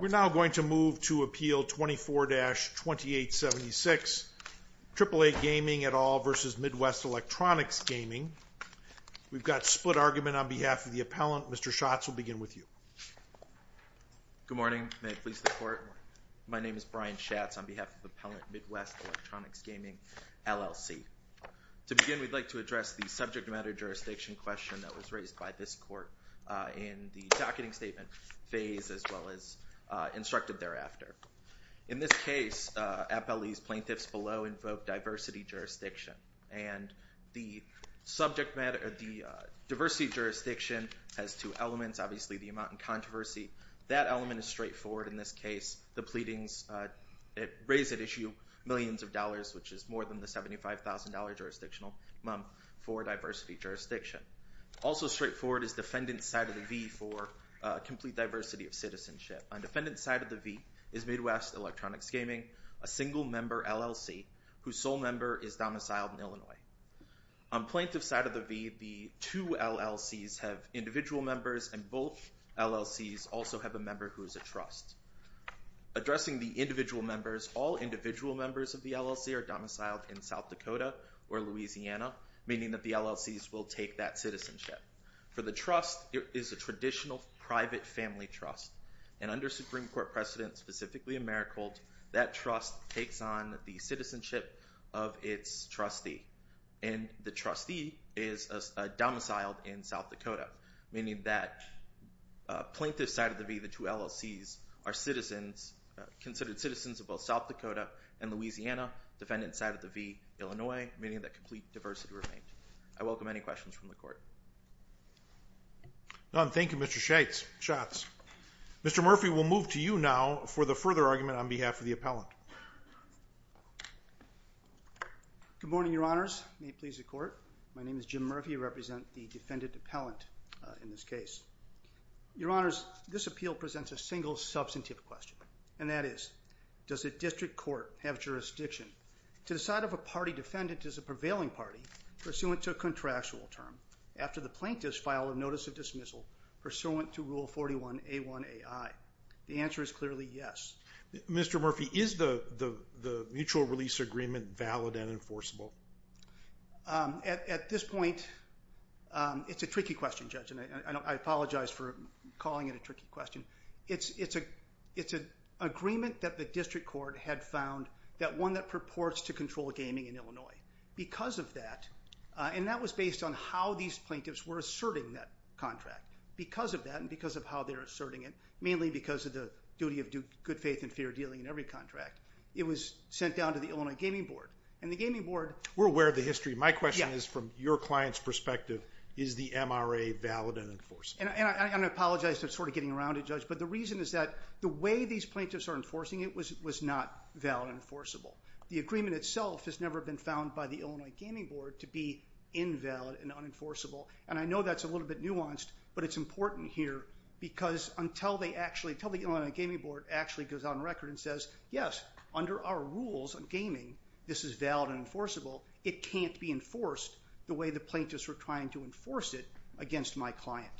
We're now going to move to appeal 24-2876, AAA Gaming et al. v. Midwest Electronics Gaming. We've got split argument on behalf of the appellant. Mr. Schatz will begin with you. Good morning. May it please the court. My name is Brian Schatz on behalf of the appellant, Midwest Electronics Gaming, LLC. To begin, we'd like to address the subject matter jurisdiction question that was raised by this court in the docketing statement phase as well as instructed thereafter. In this case, appellee's plaintiffs below invoked diversity jurisdiction and the subject matter of the diversity jurisdiction has two elements, obviously the amount and controversy. That element is straightforward in this case. The pleadings raise at issue millions of dollars, which is more than the $75,000 jurisdictional amount for diversity jurisdiction. Also straightforward is defendant's side of the v for complete diversity of citizenship. On defendant's side of the v is Midwest Electronics Gaming, a single member LLC whose sole member is domiciled in Illinois. On plaintiff's side of the v, the two LLCs have individual members and both LLCs also have a member who is a trust. Addressing the individual members, all individual members of the LLC are domiciled in South Dakota or Louisiana, meaning that the LLCs will take that citizenship. For the trust, it is a traditional private family trust. And under Supreme Court precedent, specifically AmeriCorps, that trust takes on the citizenship of its trustee and the trustee is domiciled in South Dakota, meaning that plaintiff's side of the v, the two LLCs are citizens, considered citizens of both South Dakota and Louisiana, defendant's side of the v, Illinois, meaning that complete diversity remained. I welcome any questions from the court. None. Thank you, Mr. Schatz. Mr. Murphy, we'll move to you now for the further argument on behalf of the appellant. Good morning, Your Honors. May it please the court. My name is Jim Murphy. I represent the defendant appellant in this case. Your Honors, this appeal presents a single, substantive question, and that is, does a district court have jurisdiction to decide if a party defendant is a prevailing party pursuant to a contractual term after the plaintiff's filed a notice of dismissal pursuant to Rule 41A1AI? The answer is clearly yes. Mr. Murphy, is the mutual release agreement valid and enforceable? At this point, it's a tricky question, Judge, and I apologize for calling it a tricky question. It's an agreement that the district court had found that one that purports to control gaming in Illinois. Because of that, and that was based on how these plaintiffs were asserting that contract. Because of that and because of how they're asserting it, mainly because of the duty of good faith and fair dealing in every contract, it was sent down to the Illinois Gaming Board. We're aware of the history. My question is, from your client's perspective, is the MRA valid and enforceable? And I apologize for sort of getting around it, Judge, but the reason is that the way these plaintiffs are enforcing it was not valid and enforceable. The agreement itself has never been found by the Illinois Gaming Board to be invalid and unenforceable, and I know that's a little bit nuanced, but it's important here because until the Illinois Gaming Board actually goes on record and says, yes, under our rules on gaming, this is valid and enforceable, it can't be enforced the way the plaintiffs were trying to enforce it against my client.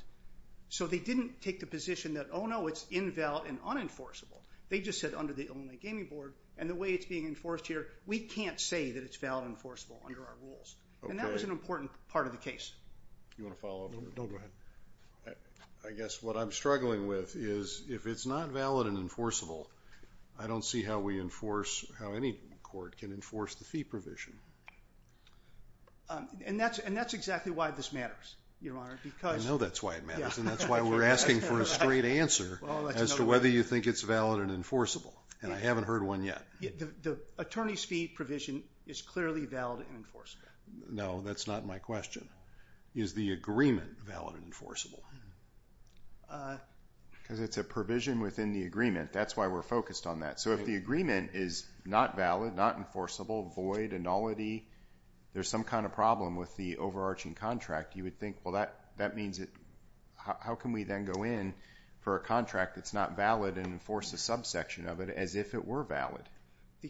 So they didn't take the position that, oh, no, it's invalid and unenforceable. They just said under the Illinois Gaming Board and the way it's being enforced here, we can't say that it's valid and enforceable under our rules. And that was an important part of the case. You want to follow up? No, go ahead. I guess what I'm struggling with is if it's not valid and enforceable, I don't see how we enforce, how any court can enforce the fee provision. And that's exactly why this matters, Your Honor, because... I know that's why it matters, and that's why we're asking for a straight answer as to whether you think it's valid and enforceable, and I haven't heard one yet. The attorney's fee provision is clearly valid and enforceable. No, that's not my question. Is the agreement valid and enforceable? Because it's a provision within the agreement. That's why we're focused on that. So if the agreement is not valid, not enforceable, void, annullity, there's some kind of problem with the overarching contract, you would think, well, that means it... How can we then go in for a contract that's not valid and enforce a subsection of it as if it were valid? The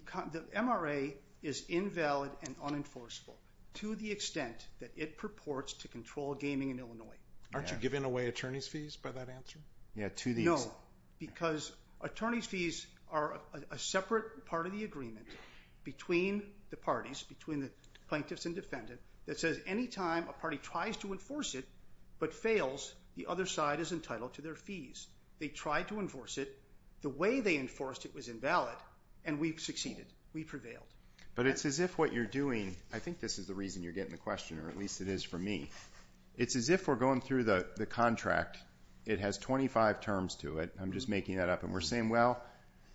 MRA is invalid and unenforceable to the extent that it purports to control gaming in Illinois. Aren't you giving away attorney's fees by that answer? No, because attorney's fees are a separate part of the agreement between the parties, between the plaintiffs and defendant, that says any time a party tries to enforce it but fails, the other side is entitled to their fees. They tried to enforce it. The way they enforced it was invalid. And we've succeeded. We've prevailed. But it's as if what you're doing... I think this is the reason you're getting the question, or at least it is for me. It's as if we're going through the contract. It has 25 terms to it. I'm just making that up. And we're saying, well,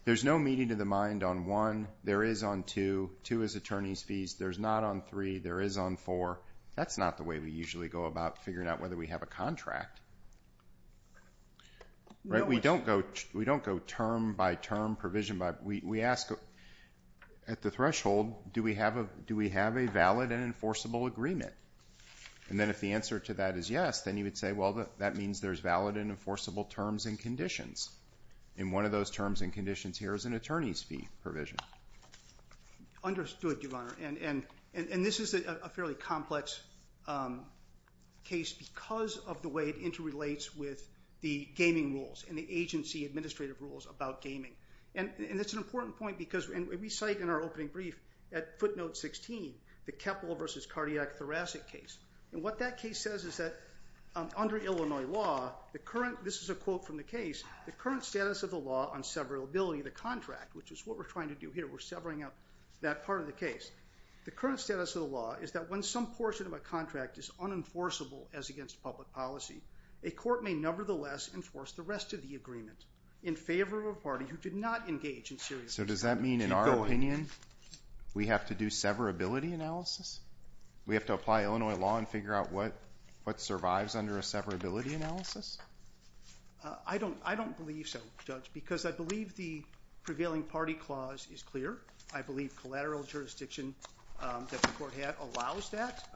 there's no meeting of the mind on 1. There is on 2. 2 is attorney's fees. There's not on 3. There is on 4. That's not the way we usually go about figuring out whether we have a contract. We don't go term by term, provision by provision. We ask at the threshold, do we have a valid and enforceable agreement? And then if the answer to that is yes, then you would say, well, that means there's valid and enforceable terms and conditions. And one of those terms and conditions here is an attorney's fee provision. Understood, Your Honor. And this is a fairly complex case because of the way it interrelates with the gaming rules and the agency administrative rules about gaming. And it's an important point because we cite in our opening brief at footnote 16 the Keppel v. Cardiac-Thoracic case. And what that case says is that under Illinois law, the current... This is a quote from the case. The current status of the law on severability of the contract, which is what we're trying to do here, we're severing out that part of the case. The current status of the law is that when some portion of a contract is unenforceable as against public policy, a court may nevertheless enforce the rest of the agreement in favor of a party who did not engage in serious... So does that mean in our opinion we have to do severability analysis? We have to apply Illinois law and figure out what survives under a severability analysis? I don't believe so, Judge, because I believe the prevailing party clause is clear. I believe collateral jurisdiction that the court had allows that.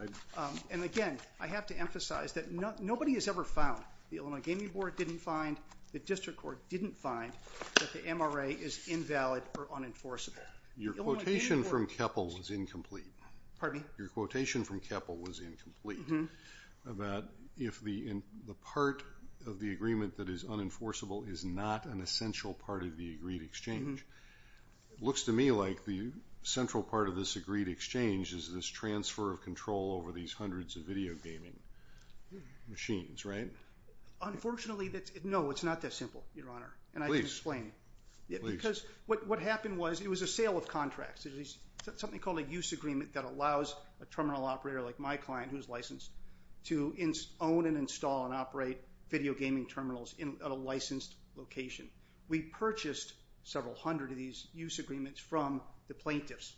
And again, I have to emphasize that nobody has ever found, the Illinois Gaming Board didn't find, the district court didn't find that the MRA is invalid or unenforceable. Your quotation from Keppel was incomplete. ...of the agreement that is unenforceable is not an essential part of the agreed exchange. Looks to me like the central part of this agreed exchange is this transfer of control over these hundreds of video gaming machines, right? Unfortunately, no, it's not that simple, Your Honor. Please. Because what happened was it was a sale of contracts. Something called a use agreement that allows a terminal operator like my client, who is licensed, to own and install and operate video gaming terminals at a licensed location. We purchased several hundred of these use agreements from the plaintiffs.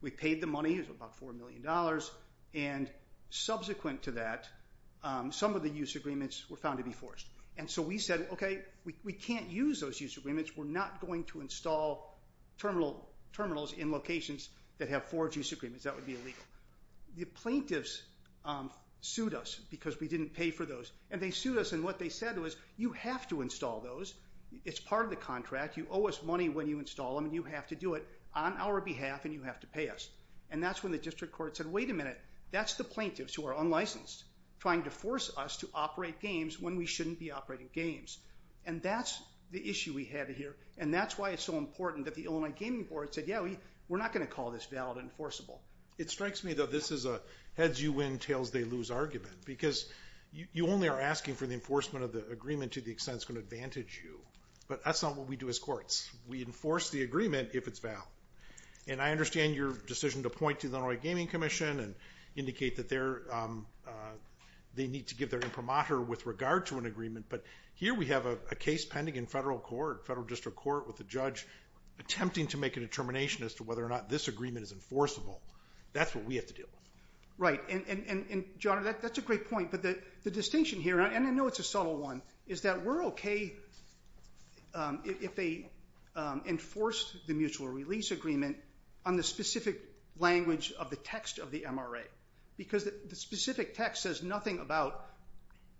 We paid the money, it was about $4 million, and subsequent to that, some of the use agreements were found to be forged. And so we said, okay, we can't use those use agreements. We're not going to install terminals in locations that have forged use agreements. That would be illegal. The plaintiffs sued us because we didn't pay for those. And they sued us, and what they said was, you have to install those. It's part of the contract. You owe us money when you install them, and you have to do it on our behalf, and you have to pay us. And that's when the district court said, wait a minute, that's the plaintiffs who are unlicensed, trying to force us to operate games when we shouldn't be operating games. And that's the issue we have here, and that's why it's so important that the Illinois Gaming Board said, yeah, we're not going to call this valid and enforceable. It strikes me that this is a heads you win, tails they lose argument, because you only are asking for the enforcement of the agreement to the extent it's going to advantage you. But that's not what we do as courts. We enforce the agreement if it's valid. And I understand your decision to point to the Illinois Gaming Commission and indicate that they need to give their imprimatur with regard to an agreement, but here we have a case pending in federal court, federal district court, with a judge attempting to make a determination as to whether or not this agreement is enforceable. That's what we have to do. Right, and John, that's a great point, but the distinction here, and I know it's a subtle one, is that we're okay if they enforce the mutual release agreement on the specific language of the text of the MRA. Because the specific text says nothing about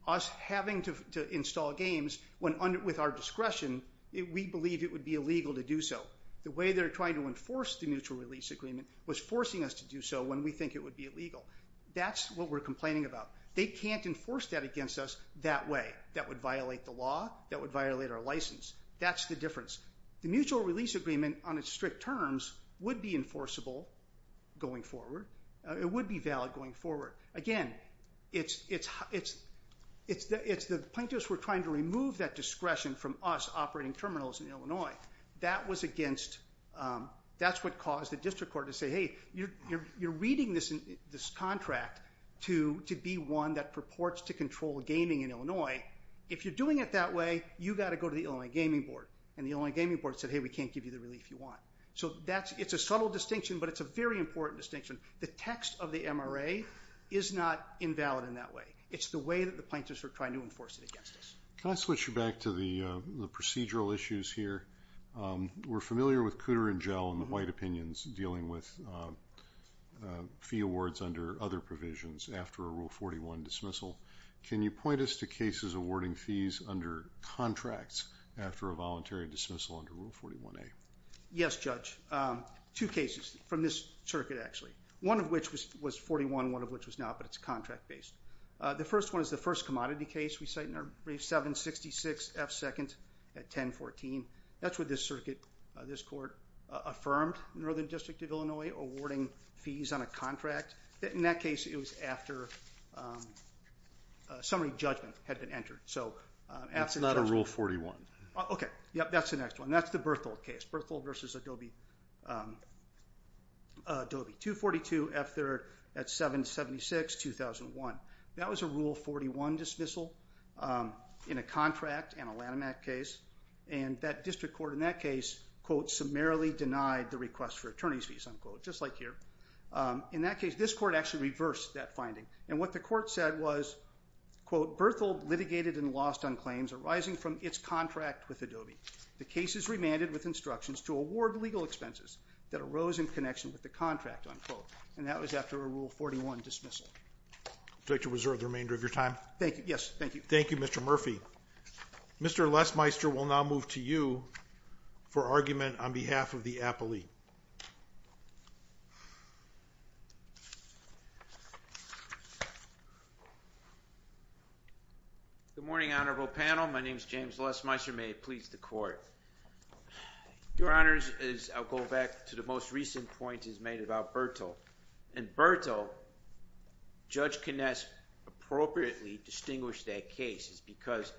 us having to install games with our discretion, we believe it would be illegal to do so. The way they're trying to enforce the mutual release agreement was forcing us to do so when we think it would be illegal. That's what we're complaining about. They can't enforce that against us that way. That would violate the law, that would violate our license. That's the difference. The mutual release agreement on its strict terms would be enforceable going forward. It would be valid going forward. Again, it's the plaintiffs were trying to remove that discretion from us operating terminals in Illinois. That's what caused the district court to say, hey, you're reading this contract to be one that purports to control gaming in Illinois. If you're doing it that way, you've got to go to the Illinois Gaming Board. And the Illinois Gaming Board said, hey, we can't give you the relief you want. So it's a subtle distinction, but it's a very important distinction. The text of the MRA is not invalid in that way. It's the way that the plaintiffs are trying to enforce it against us. Can I switch you back to the procedural issues here? We're familiar with Cooter and Gell and the white opinions dealing with fee awards under other provisions after a Rule 41 dismissal. Can you point us to cases awarding fees under contracts after a voluntary dismissal under Rule 41A? Yes, Judge. Two cases from this circuit, actually. One of which was 41, one of which was not, but it's contract-based. The first one is the first commodity case we cite in our brief. 766F2nd at 1014. That's what this court affirmed in the Northern District of Illinois awarding fees on a contract. In that case, it was after a summary judgment had been entered. So after the judgment. It's not a Rule 41. OK. Yeah, that's the next one. That's the Berthold case. Berthold versus Adobe. Adobe. 242F3rd at 776, 2001. That was a Rule 41 dismissal in a contract and a Lanham Act case. And that district court in that case, quote, summarily denied the request for attorney's fees, unquote. Just like here. In that case, this court actually reversed that finding. And what the court said was, quote, Berthold litigated and lost on claims arising from its contract with Adobe. The case is remanded with instructions to award legal expenses that arose in connection with the contract, unquote. And that was after a Rule 41 dismissal. Do I have to reserve the remainder of your time? Thank you. Yes. Thank you. Thank you, Mr. Murphy. Mr. Lesmeister will now move to you for argument on behalf of the appellee. Good morning, honorable panel. My name is James Lesmeister. May it please the court. Your honors, I'll go back to the most recent point he's made about Berthold. In Berthold, Judge Kness appropriately distinguished that case because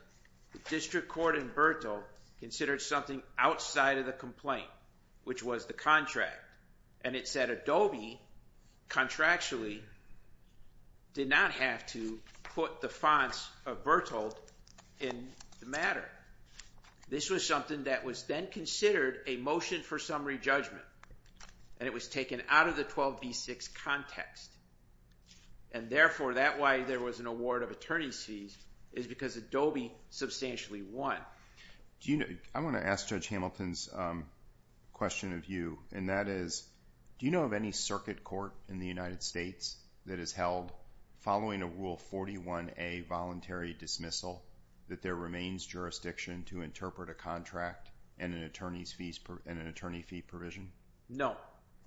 the district court in Berthold considered something outside of the complaint, which was the contract. And it said Adobe contractually did not have to put the fonts of Berthold in the matter. This was something that was then considered a motion for summary judgment. And it was taken out of the 12B6 context. And therefore, that why there was an award of attorney's fees is because Adobe substantially won. I want to ask Judge Hamilton's question of you. And that is, do you know of any circuit court in the United States that has held, following a Rule 41A voluntary dismissal, that there remains jurisdiction to interpret a contract and an attorney fee provision? No.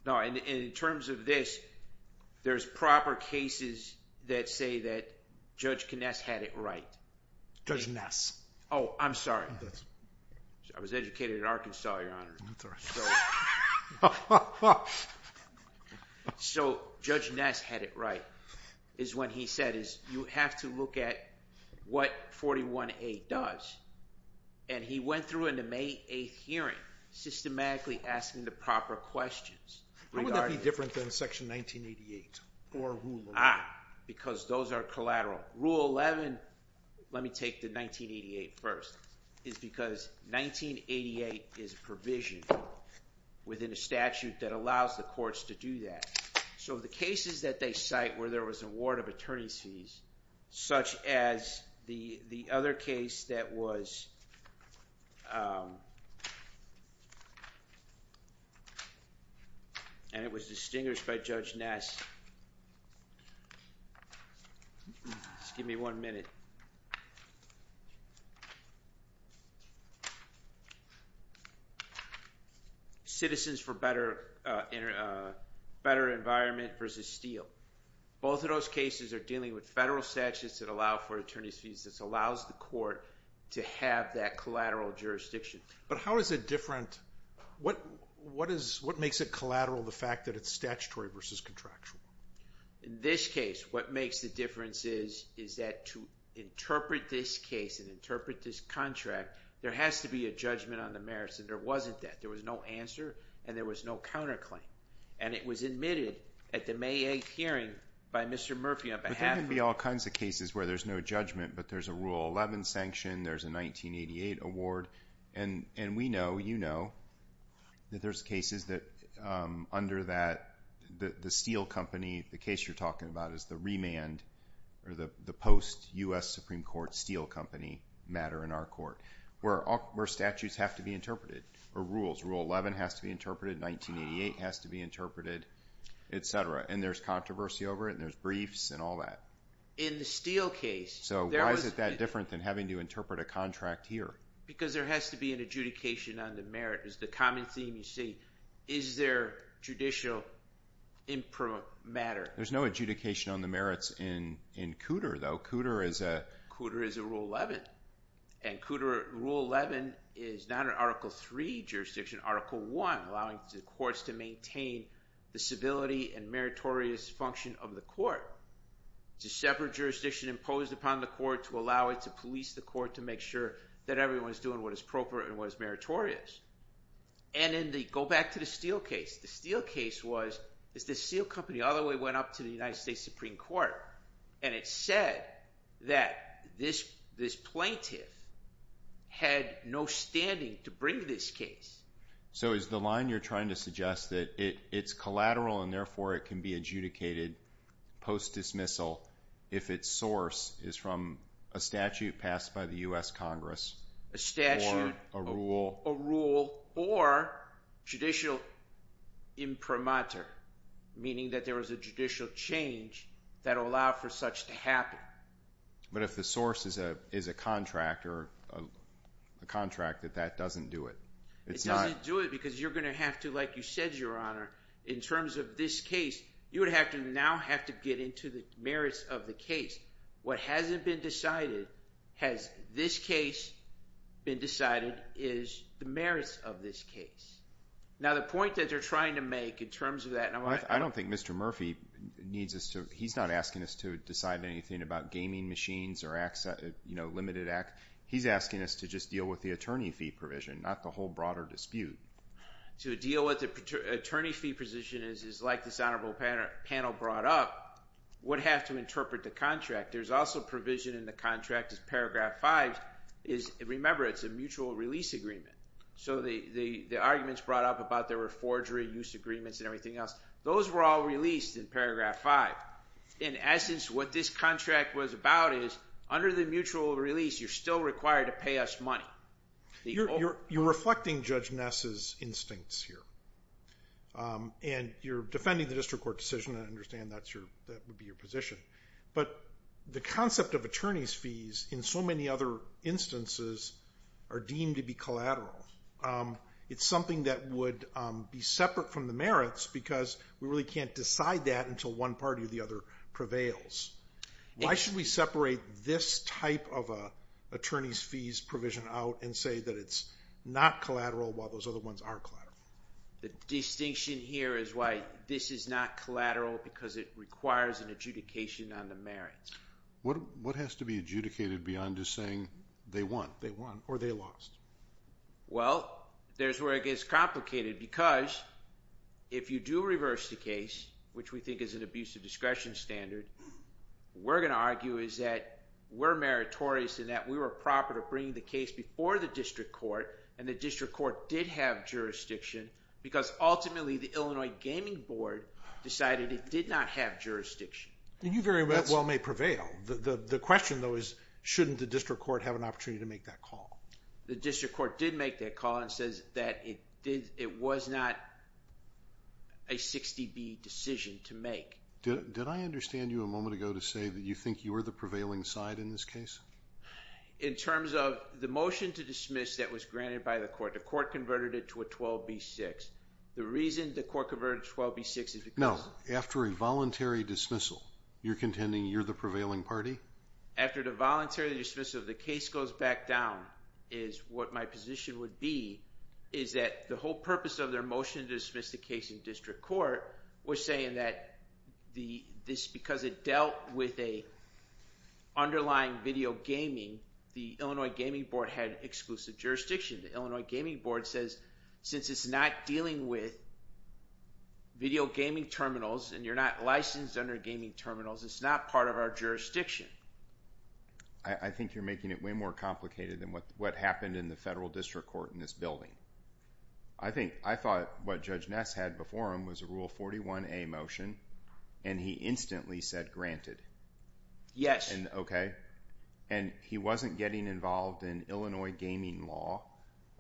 And in terms of this, there's proper cases that say that Judge Kness had it right. Judge Kness. Oh, I'm sorry. I was educated in Arkansas, Your Honor. That's all right. So, Judge Kness had it right. What he said is, you have to look at what 41A does. And he went through in the May 8th hearing, systematically asking the proper questions. How would that be different than Section 1988 or Rule 11? Because those are collateral. Rule 11, let me take the 1988 first, is because 1988 is provisioned within a statute that allows the courts to do that. So the cases that they cite where there was a ward of attorney's fees, such as the other case that was... And it was distinguished by Judge Kness. Just give me one minute. Citizens for Better Environment versus Steele. Both of those cases are dealing with federal statutes that allow for attorney's fees. This allows the court to have that collateral jurisdiction. But how is it different? What makes it collateral, the fact that it's statutory versus contractual? In this case, what makes the difference is, is that to interpret a contract. To interpret this case and interpret this contract, there has to be a judgment on the merits, and there wasn't that. There was no answer, and there was no counterclaim. And it was admitted at the May 8th hearing by Mr. Murphy on behalf of... But there can be all kinds of cases where there's no judgment, but there's a Rule 11 sanction, there's a 1988 award. And we know, you know, that there's cases that, under that, the Steele company, the case you're talking about is the remand, or the post-U.S. Supreme Court Steele company matter in our court, where statutes have to be interpreted, or rules. Rule 11 has to be interpreted, 1988 has to be interpreted, etc. And there's controversy over it, and there's briefs and all that. In the Steele case... So why is it that different than having to interpret a contract here? Because there has to be an adjudication on the merit. It's the common theme, you see. Is there judicial improper matter? There's no adjudication on the merits in Cooter, though. Cooter is a Rule 11. And Cooter Rule 11 is not an Article 3 jurisdiction, Article 1, allowing the courts to maintain the civility and meritorious function of the court. It's a separate jurisdiction imposed upon the court to allow it to police the court to make sure that everyone's doing what is appropriate and what is meritorious. And go back to the Steele case. The Steele case was, the Steele company all the way went up to the United States Supreme Court. And it said that this plaintiff had no standing to bring this case. So is the line you're trying to suggest that it's collateral and therefore it can be adjudicated post-dismissal if its source is from a statute passed by the U.S. Congress? A statute, a rule, or judicial imprimatur, meaning that there was a judicial change that allowed for such to happen. But if the source is a contract that that doesn't do it? It doesn't do it because you're going to have to, like you said, Your Honor, in terms of this case, you would now have to get into the merits of the case. What hasn't been decided, has this case been decided, is the merits of this case. Now the point that they're trying to make in terms of that, I don't think Mr. Murphy needs us to, he's not asking us to decide anything about gaming machines or limited access, he's asking us to just deal with the attorney fee provision, not the whole broader dispute. To deal with the attorney fee position is like this honorable panel brought up, would have to interpret the contract. There's also provision in the contract, remember it's a mutual release agreement. So the arguments brought up about there were forgery use agreements and everything else, those were all released in paragraph five. In essence, what this contract was about is, under the mutual release, you're still required to pay us money. You're reflecting Judge Ness' instincts here. And you're defending the district court decision, and I understand that would be your position. But the concept of attorney's fees in so many other instances are deemed to be collateral. It's something that would be separate from the merits because we really can't decide that until one party or the other prevails. Why should we separate this type of attorney's fees provision out and say that it's not collateral while those other ones are collateral? The distinction here is why this is not collateral because it requires an adjudication on the merits. What has to be adjudicated beyond just saying they won or they lost? Well, there's where it gets complicated because if you do reverse the case, which we think is an abuse of discretion standard, what we're going to argue is that we're meritorious and that we were proper to bring the case before the district court and the district court did have jurisdiction because ultimately the Illinois Gaming Board decided it did not have jurisdiction. You very well may prevail. The question though is shouldn't the district court have an opportunity to make that call? The district court did make that call and says that it was not a 60B decision to make. Did I understand you a moment ago to say that you think you were the prevailing side in this case? In terms of the motion to dismiss that was granted by the court, the court converted it to a 12B6. The reason the court converted it to a 12B6 is because No, after a voluntary dismissal, you're contending you're the prevailing party? After the voluntary dismissal, the case goes back down is what my position would be is that the whole purpose of their motion to dismiss the case in district court was saying that because it dealt with an underlying video gaming the Illinois Gaming Board had exclusive jurisdiction. The Illinois Gaming Board says since it's not dealing with video gaming terminals and you're not licensed under gaming terminals it's not part of our jurisdiction. I think you're making it way more complicated than what happened in the federal district court in this building. I thought what Judge Ness had before him was a Rule 41A motion and he instantly said granted. He wasn't getting involved in Illinois gaming law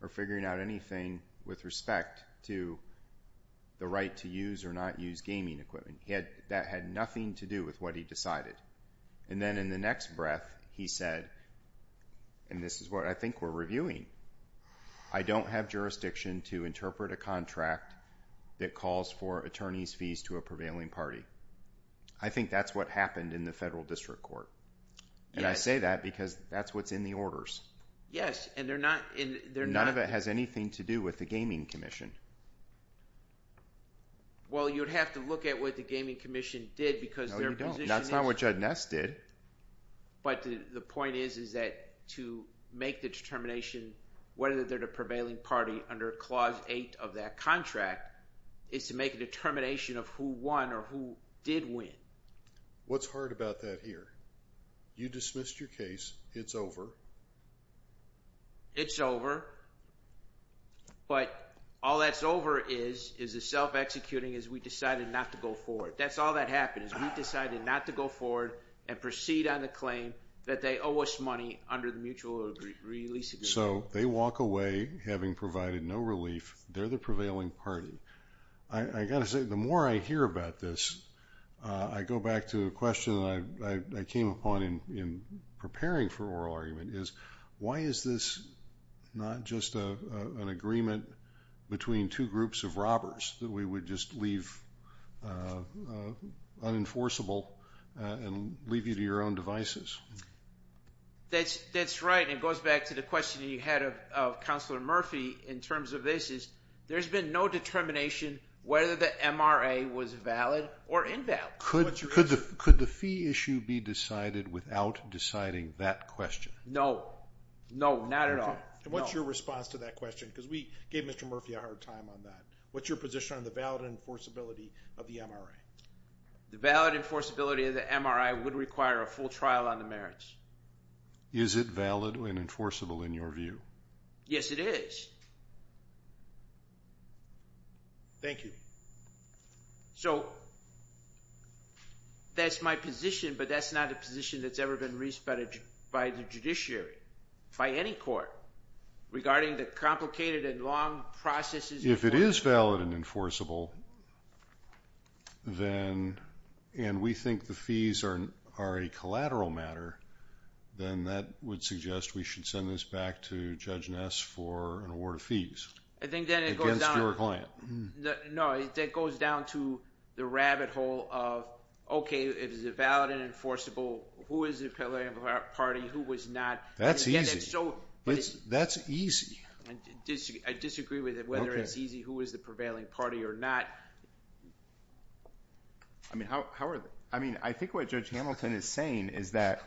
or figuring out anything with respect to the right to use or not use gaming equipment. That had nothing to do with what he decided. Then in the next breath he said and this is what I think we're reviewing I don't have jurisdiction to interpret a contract that calls for attorney's fees to a prevailing party. I think that's what happened in the federal district court. I say that because that's what's in the orders. None of it has anything to do with the gaming commission. Well you'd have to look at what the gaming commission did No you don't. That's not what Judge Ness did. But the point is that to make the determination whether they're the prevailing party under clause 8 of that contract is to make a determination of who won or who did win. What's hard about that here? You dismissed your case. It's over. It's over. But all that's over is the self-executing is we decided not to go forward. That's all that happened is we decided not to go forward and proceed on the claim that they owe us money under the mutual release agreement. So they walk away having provided no relief. They're the prevailing party. The more I hear about this I go back to a question I came upon in preparing for oral argument Why is this not just an agreement between two groups of robbers that we would just leave unenforceable and leave you to your own devices? That's right. It goes back to the question you had of Counselor Murphy in terms of this There's been no determination whether the MRA was valid or invalid. Could the fee issue be decided without deciding that question? No. No. Not at all. What's your response to that question? What's your position on the valid enforceability of the MRA? The valid enforceability of the MRA would require a full trial on the merits. Is it valid and enforceable in your view? Yes, it is. Thank you. So, that's my position but that's not a position that's ever been raised by the judiciary, by any court regarding the complicated and long processes If it is valid and enforceable and we think the fees are a collateral matter then that would suggest we should send this back to Judge Ness for an award of fees against your client. That goes down to the rabbit hole of if it's valid and enforceable, who is the party, who is not? That's easy. I disagree with it, whether it's easy, who is the prevailing party or not. I think what Judge Hamilton is saying is that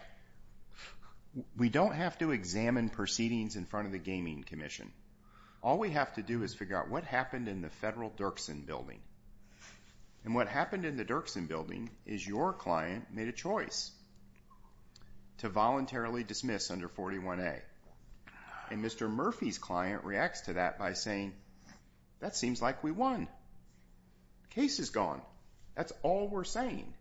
we don't have to examine proceedings in front of the Gaming Commission. All we have to do is figure out what happened in the Federal Dirksen Building. And what happened in the Dirksen Building is your client made a choice to voluntarily dismiss under 41A and Mr. Murphy's client reacts to that by saying, that seems like we won. The case is gone. That's all we're saying.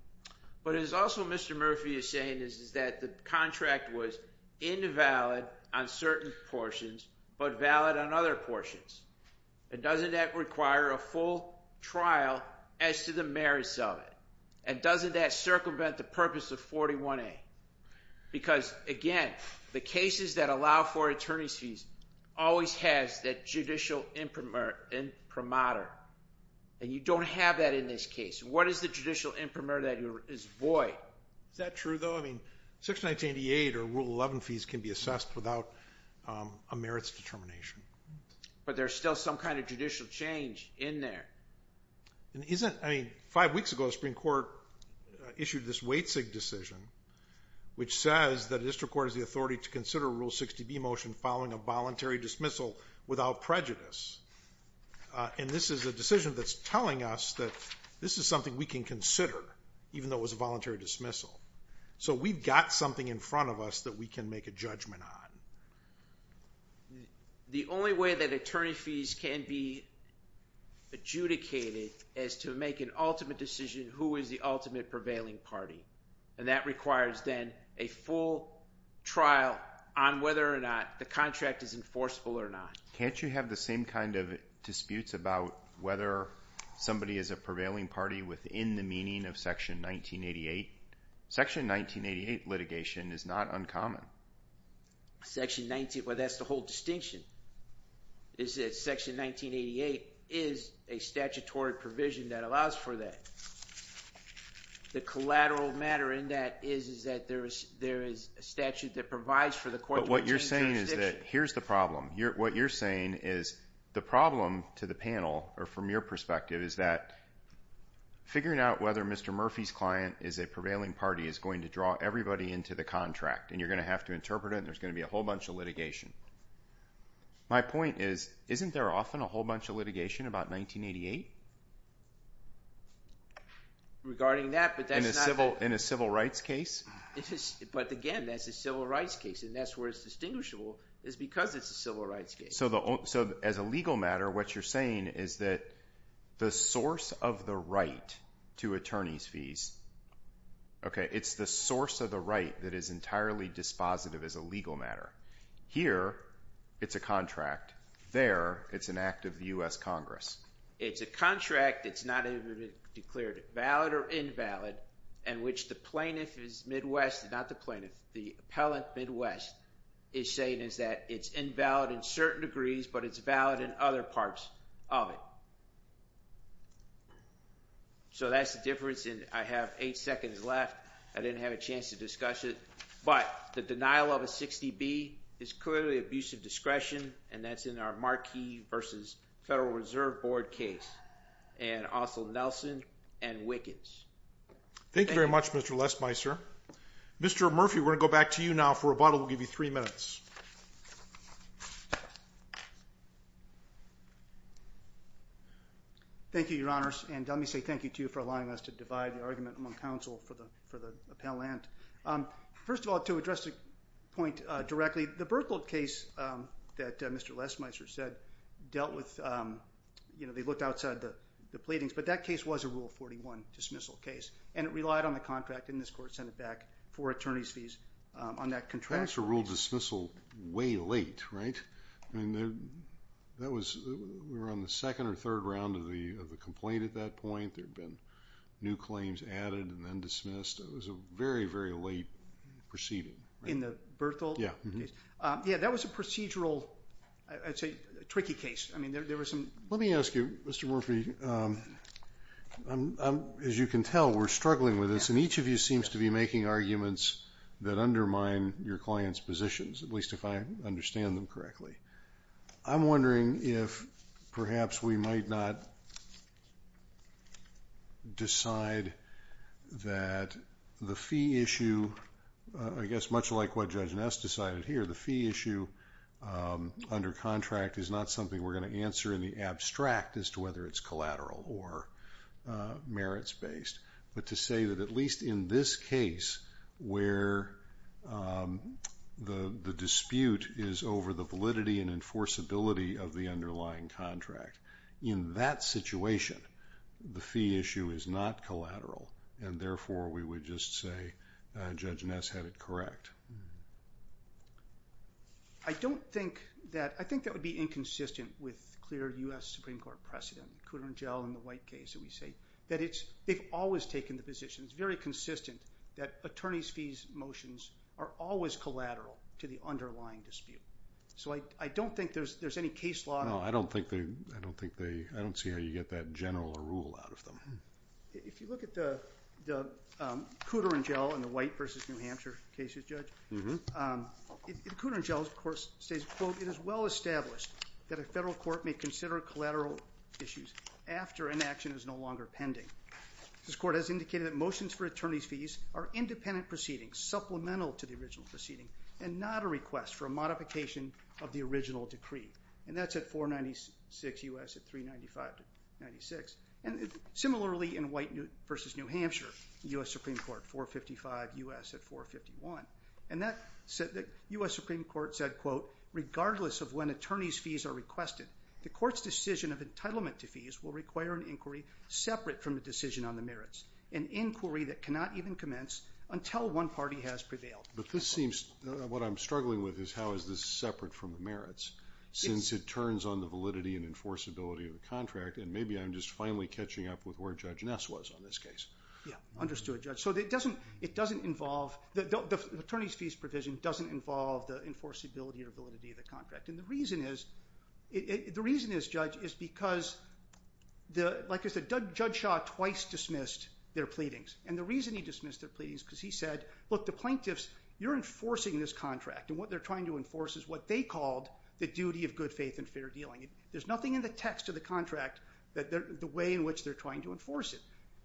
But it's also what Mr. Murphy is saying is that the contract was invalid on certain portions, but valid on other portions. Doesn't that require a full trial as to the merits of it? And doesn't that circumvent the purpose of 41A? Because, again, the cases that allow for attorney's fees always has that judicial imprimatur. And you don't have that in this case. What is the judicial imprimatur that is void? Is that true though? I mean, Section 1988 or Rule 11 fees can be assessed without a merits determination. But there's still some kind of judicial change in there. And isn't, I mean, five weeks ago the Supreme Court issued this Watsig decision which says that a district court has the authority to consider a Rule 60B motion following a voluntary dismissal without prejudice. And this is a decision that's telling us that this is something we can consider even though it was a voluntary dismissal. So we've got something in front of us that we can make a judgment on. The only way that attorney's can make an ultimate decision, who is the ultimate prevailing party. And that requires then a full trial on whether or not the contract is enforceable or not. Can't you have the same kind of disputes about whether somebody is a prevailing party within the meaning of Section 1988? Section 1988 litigation is not uncommon. Well, that's the whole distinction. Section 1988 is a statutory provision that allows for that. The collateral matter in that is that there is a statute that provides for the court's jurisdiction. But what you're saying is that, here's the problem. What you're saying is the problem to the panel or from your perspective is that figuring out whether Mr. Murphy's client is a prevailing party is going to draw everybody into the contract. And you're going to have to interpret it and there's going to be a whole bunch of litigation. My point is, isn't there often a whole bunch of litigation about 1988? In a civil rights case? But again, that's a civil rights case. And that's where it's distinguishable is because it's a civil rights case. So as a legal matter, what you're saying is that the source of the right to attorney's fees, it's the source of the right that is entirely dispositive as a legal matter. Here, it's a contract. There, it's an act of the U.S. Congress. It's a contract. It's not even declared valid or invalid in which the plaintiff is Midwest, not the plaintiff, the appellant Midwest, is saying that it's invalid in certain degrees, but it's valid in other parts of it. So that's the difference. And I have eight seconds left. I didn't have a chance to discuss it. But the denial of a 60B is clearly abusive discretion and that's in our Marquis vs. Federal Reserve Board case. And also Nelson and Wickets. Thank you very much, Mr. Lesmeister. Mr. Murphy, we're going to go back to you now for rebuttal. We'll give you three minutes. Thank you, Your Honors, and let me say thank you, too, for allowing us to divide the argument among counsel for the appellant. First of all, to address the point directly, the Burkle case that Mr. Lesmeister said dealt with, you know, they looked outside the pleadings, but that case was a Rule 41 dismissal case, and it relied on the contract in this Court of Senate back for attorney's fees on that contract. That's a Rule dismissal way late, right? We were on the second or third round of the complaint at that point. There had been new claims added and then dismissed. It was a very, very late proceeding. In the Burkle case? Yeah. That was a procedural, I'd say, tricky case. Let me ask you, Mr. Murphy, as you can tell, we're struggling with this, and each of you seems to be making arguments that at least if I understand them correctly. I'm wondering if perhaps we might not decide that the fee issue I guess much like what Judge Ness decided here, the fee issue under contract is not something we're going to answer in the abstract as to whether it's collateral or merits-based, but to say that at least in this case where the dispute is over the validity and enforceability of the underlying contract. In that situation, the fee issue is not collateral and therefore we would just say Judge Ness had it correct. I don't think that, I think that would be inconsistent with clear U.S. Supreme Court precedent. Cooter and Jell in the White case, we say that it's they've always taken the position, it's very consistent that attorneys' fees motions are always collateral to the underlying dispute. So I don't think there's any case law. No, I don't think they, I don't see how you get that general rule out of them. If you look at the Cooter and Jell and the White v. New Hampshire cases, Judge, Cooter and Jell of course says, quote, it is well established that a federal court may consider collateral issues after an action is no longer pending. This court has indicated that motions for attorney's fees are independent proceedings, supplemental to the original proceeding and not a request for a modification of the original decree. And that's at 496 U.S. at 395 to 96. And similarly in White v. New Hampshire, U.S. Supreme Court, 455 U.S. at 451. And that U.S. Supreme Court said, quote, regardless of when attorney's fees are requested, the court's decision of entitlement to fees will require an inquiry separate from the decision on the merits, an inquiry that cannot even commence until one party has prevailed. But this seems, what I'm struggling with is how is this separate from the merits since it turns on the validity and enforceability of the contract and maybe I'm just finally catching up with where Judge Ness was on this case. Yeah, understood, Judge. So it doesn't involve, the attorney's fees provision doesn't involve the enforceability or validity of the contract. And the reason is the reason is, Judge, is because like I said, Judge Shaw twice dismissed their pleadings. And the reason he dismissed their pleadings is because he said look, the plaintiffs, you're enforcing this contract and what they're trying to enforce is what they called the duty of good faith and fair dealing. There's nothing in the text of the contract the way in which they're trying to enforce it.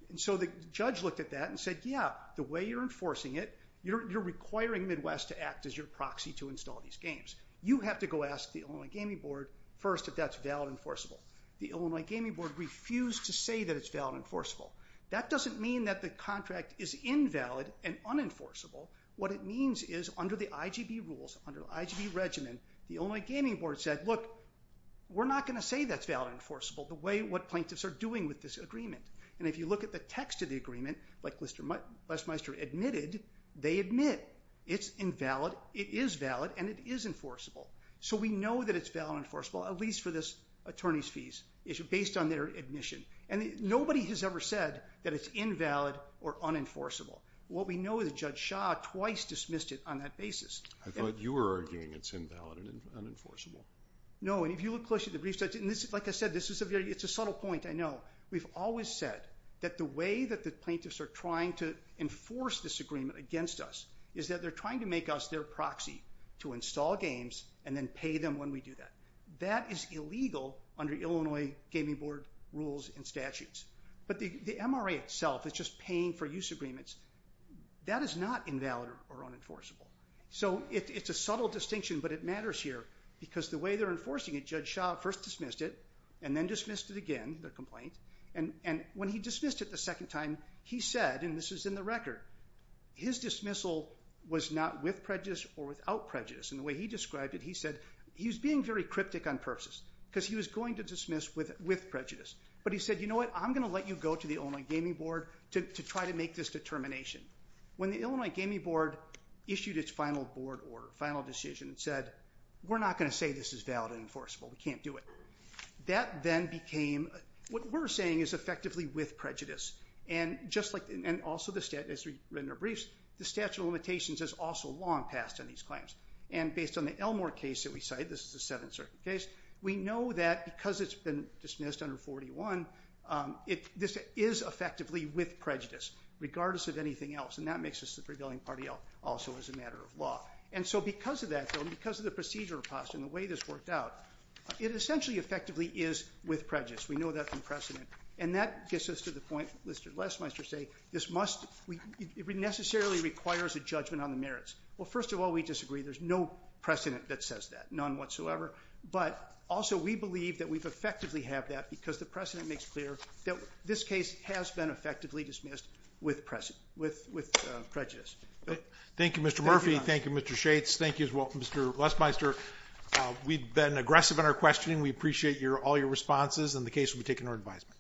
And so the judge looked at that and said, yeah, the way you're enforcing it you're requiring Midwest to act as your proxy to install these games. You have to go ask the Illinois Gaming Board first if that's valid enforceable. The Illinois Gaming Board refused to say that it's valid enforceable. That doesn't mean that the contract is invalid and unenforceable. What it means is under the IGB rules, under the IGB regimen, the Illinois Gaming Board said, look we're not going to say that's valid enforceable the way what plaintiffs are doing with this agreement. And if you look at the text of the agreement like Les Meister admitted, they admit it's invalid, it is valid, and it is enforceable. So we know that it's valid and enforceable at least for this attorney's fees issue based on their admission. And nobody has ever said that it's invalid or unenforceable. What we know is Judge Shah twice dismissed it on that basis. I thought you were arguing it's invalid and unenforceable. No, and if you look closely at the brief, like I said, it's a subtle point, I know. We've always said that the way that the plaintiffs are trying to enforce this agreement against us is that they're trying to make us their proxy to install games and then pay them when we do that. That is illegal under Illinois Gaming Board rules and statutes. But the MRA itself is just paying for use agreements. That is not invalid or unenforceable. So it's a subtle distinction but it matters here because the way they're enforcing it, Judge Shah first dismissed it and then dismissed it again, the complaint. And when he dismissed it the second time, he said and this is in the record, his dismissal was not with prejudice or without prejudice. And the way he described it, he said he was being very cryptic on purposes because he was going to dismiss with prejudice. But he said you know what, I'm going to let you go to the Illinois Gaming Board to try to make this determination. When the Illinois Gaming Board issued its final board order, final decision and said we're not going to say this is valid and enforceable. We can't do it. That then became, what we're saying is effectively with prejudice. And just like and also as we've written our briefs, the statute of limitations has also long passed on these claims. And based on the Elmore case that we cite, this is the 7th Circuit case, we know that because it's been dismissed under 41, this is effectively with prejudice regardless of anything else. And that makes us the prevailing party also as a matter of law. And so because of that and because of the procedure in the way this worked out it essentially effectively is with prejudice. We know that from precedent and that gets us to the point Lester Lesmeister said this must, it necessarily requires a judgment on the merits. Well first of all we disagree. There's no precedent that says that. None whatsoever. But also we believe that we effectively have that because the precedent makes clear that this case has been effectively dismissed with prejudice. Thank you Mr. Murphy. Thank you Mr. Shates. Thank you as well Mr. Lesmeister. We've been aggressive in our questioning we appreciate all your responses and the case will be taken to our advisement.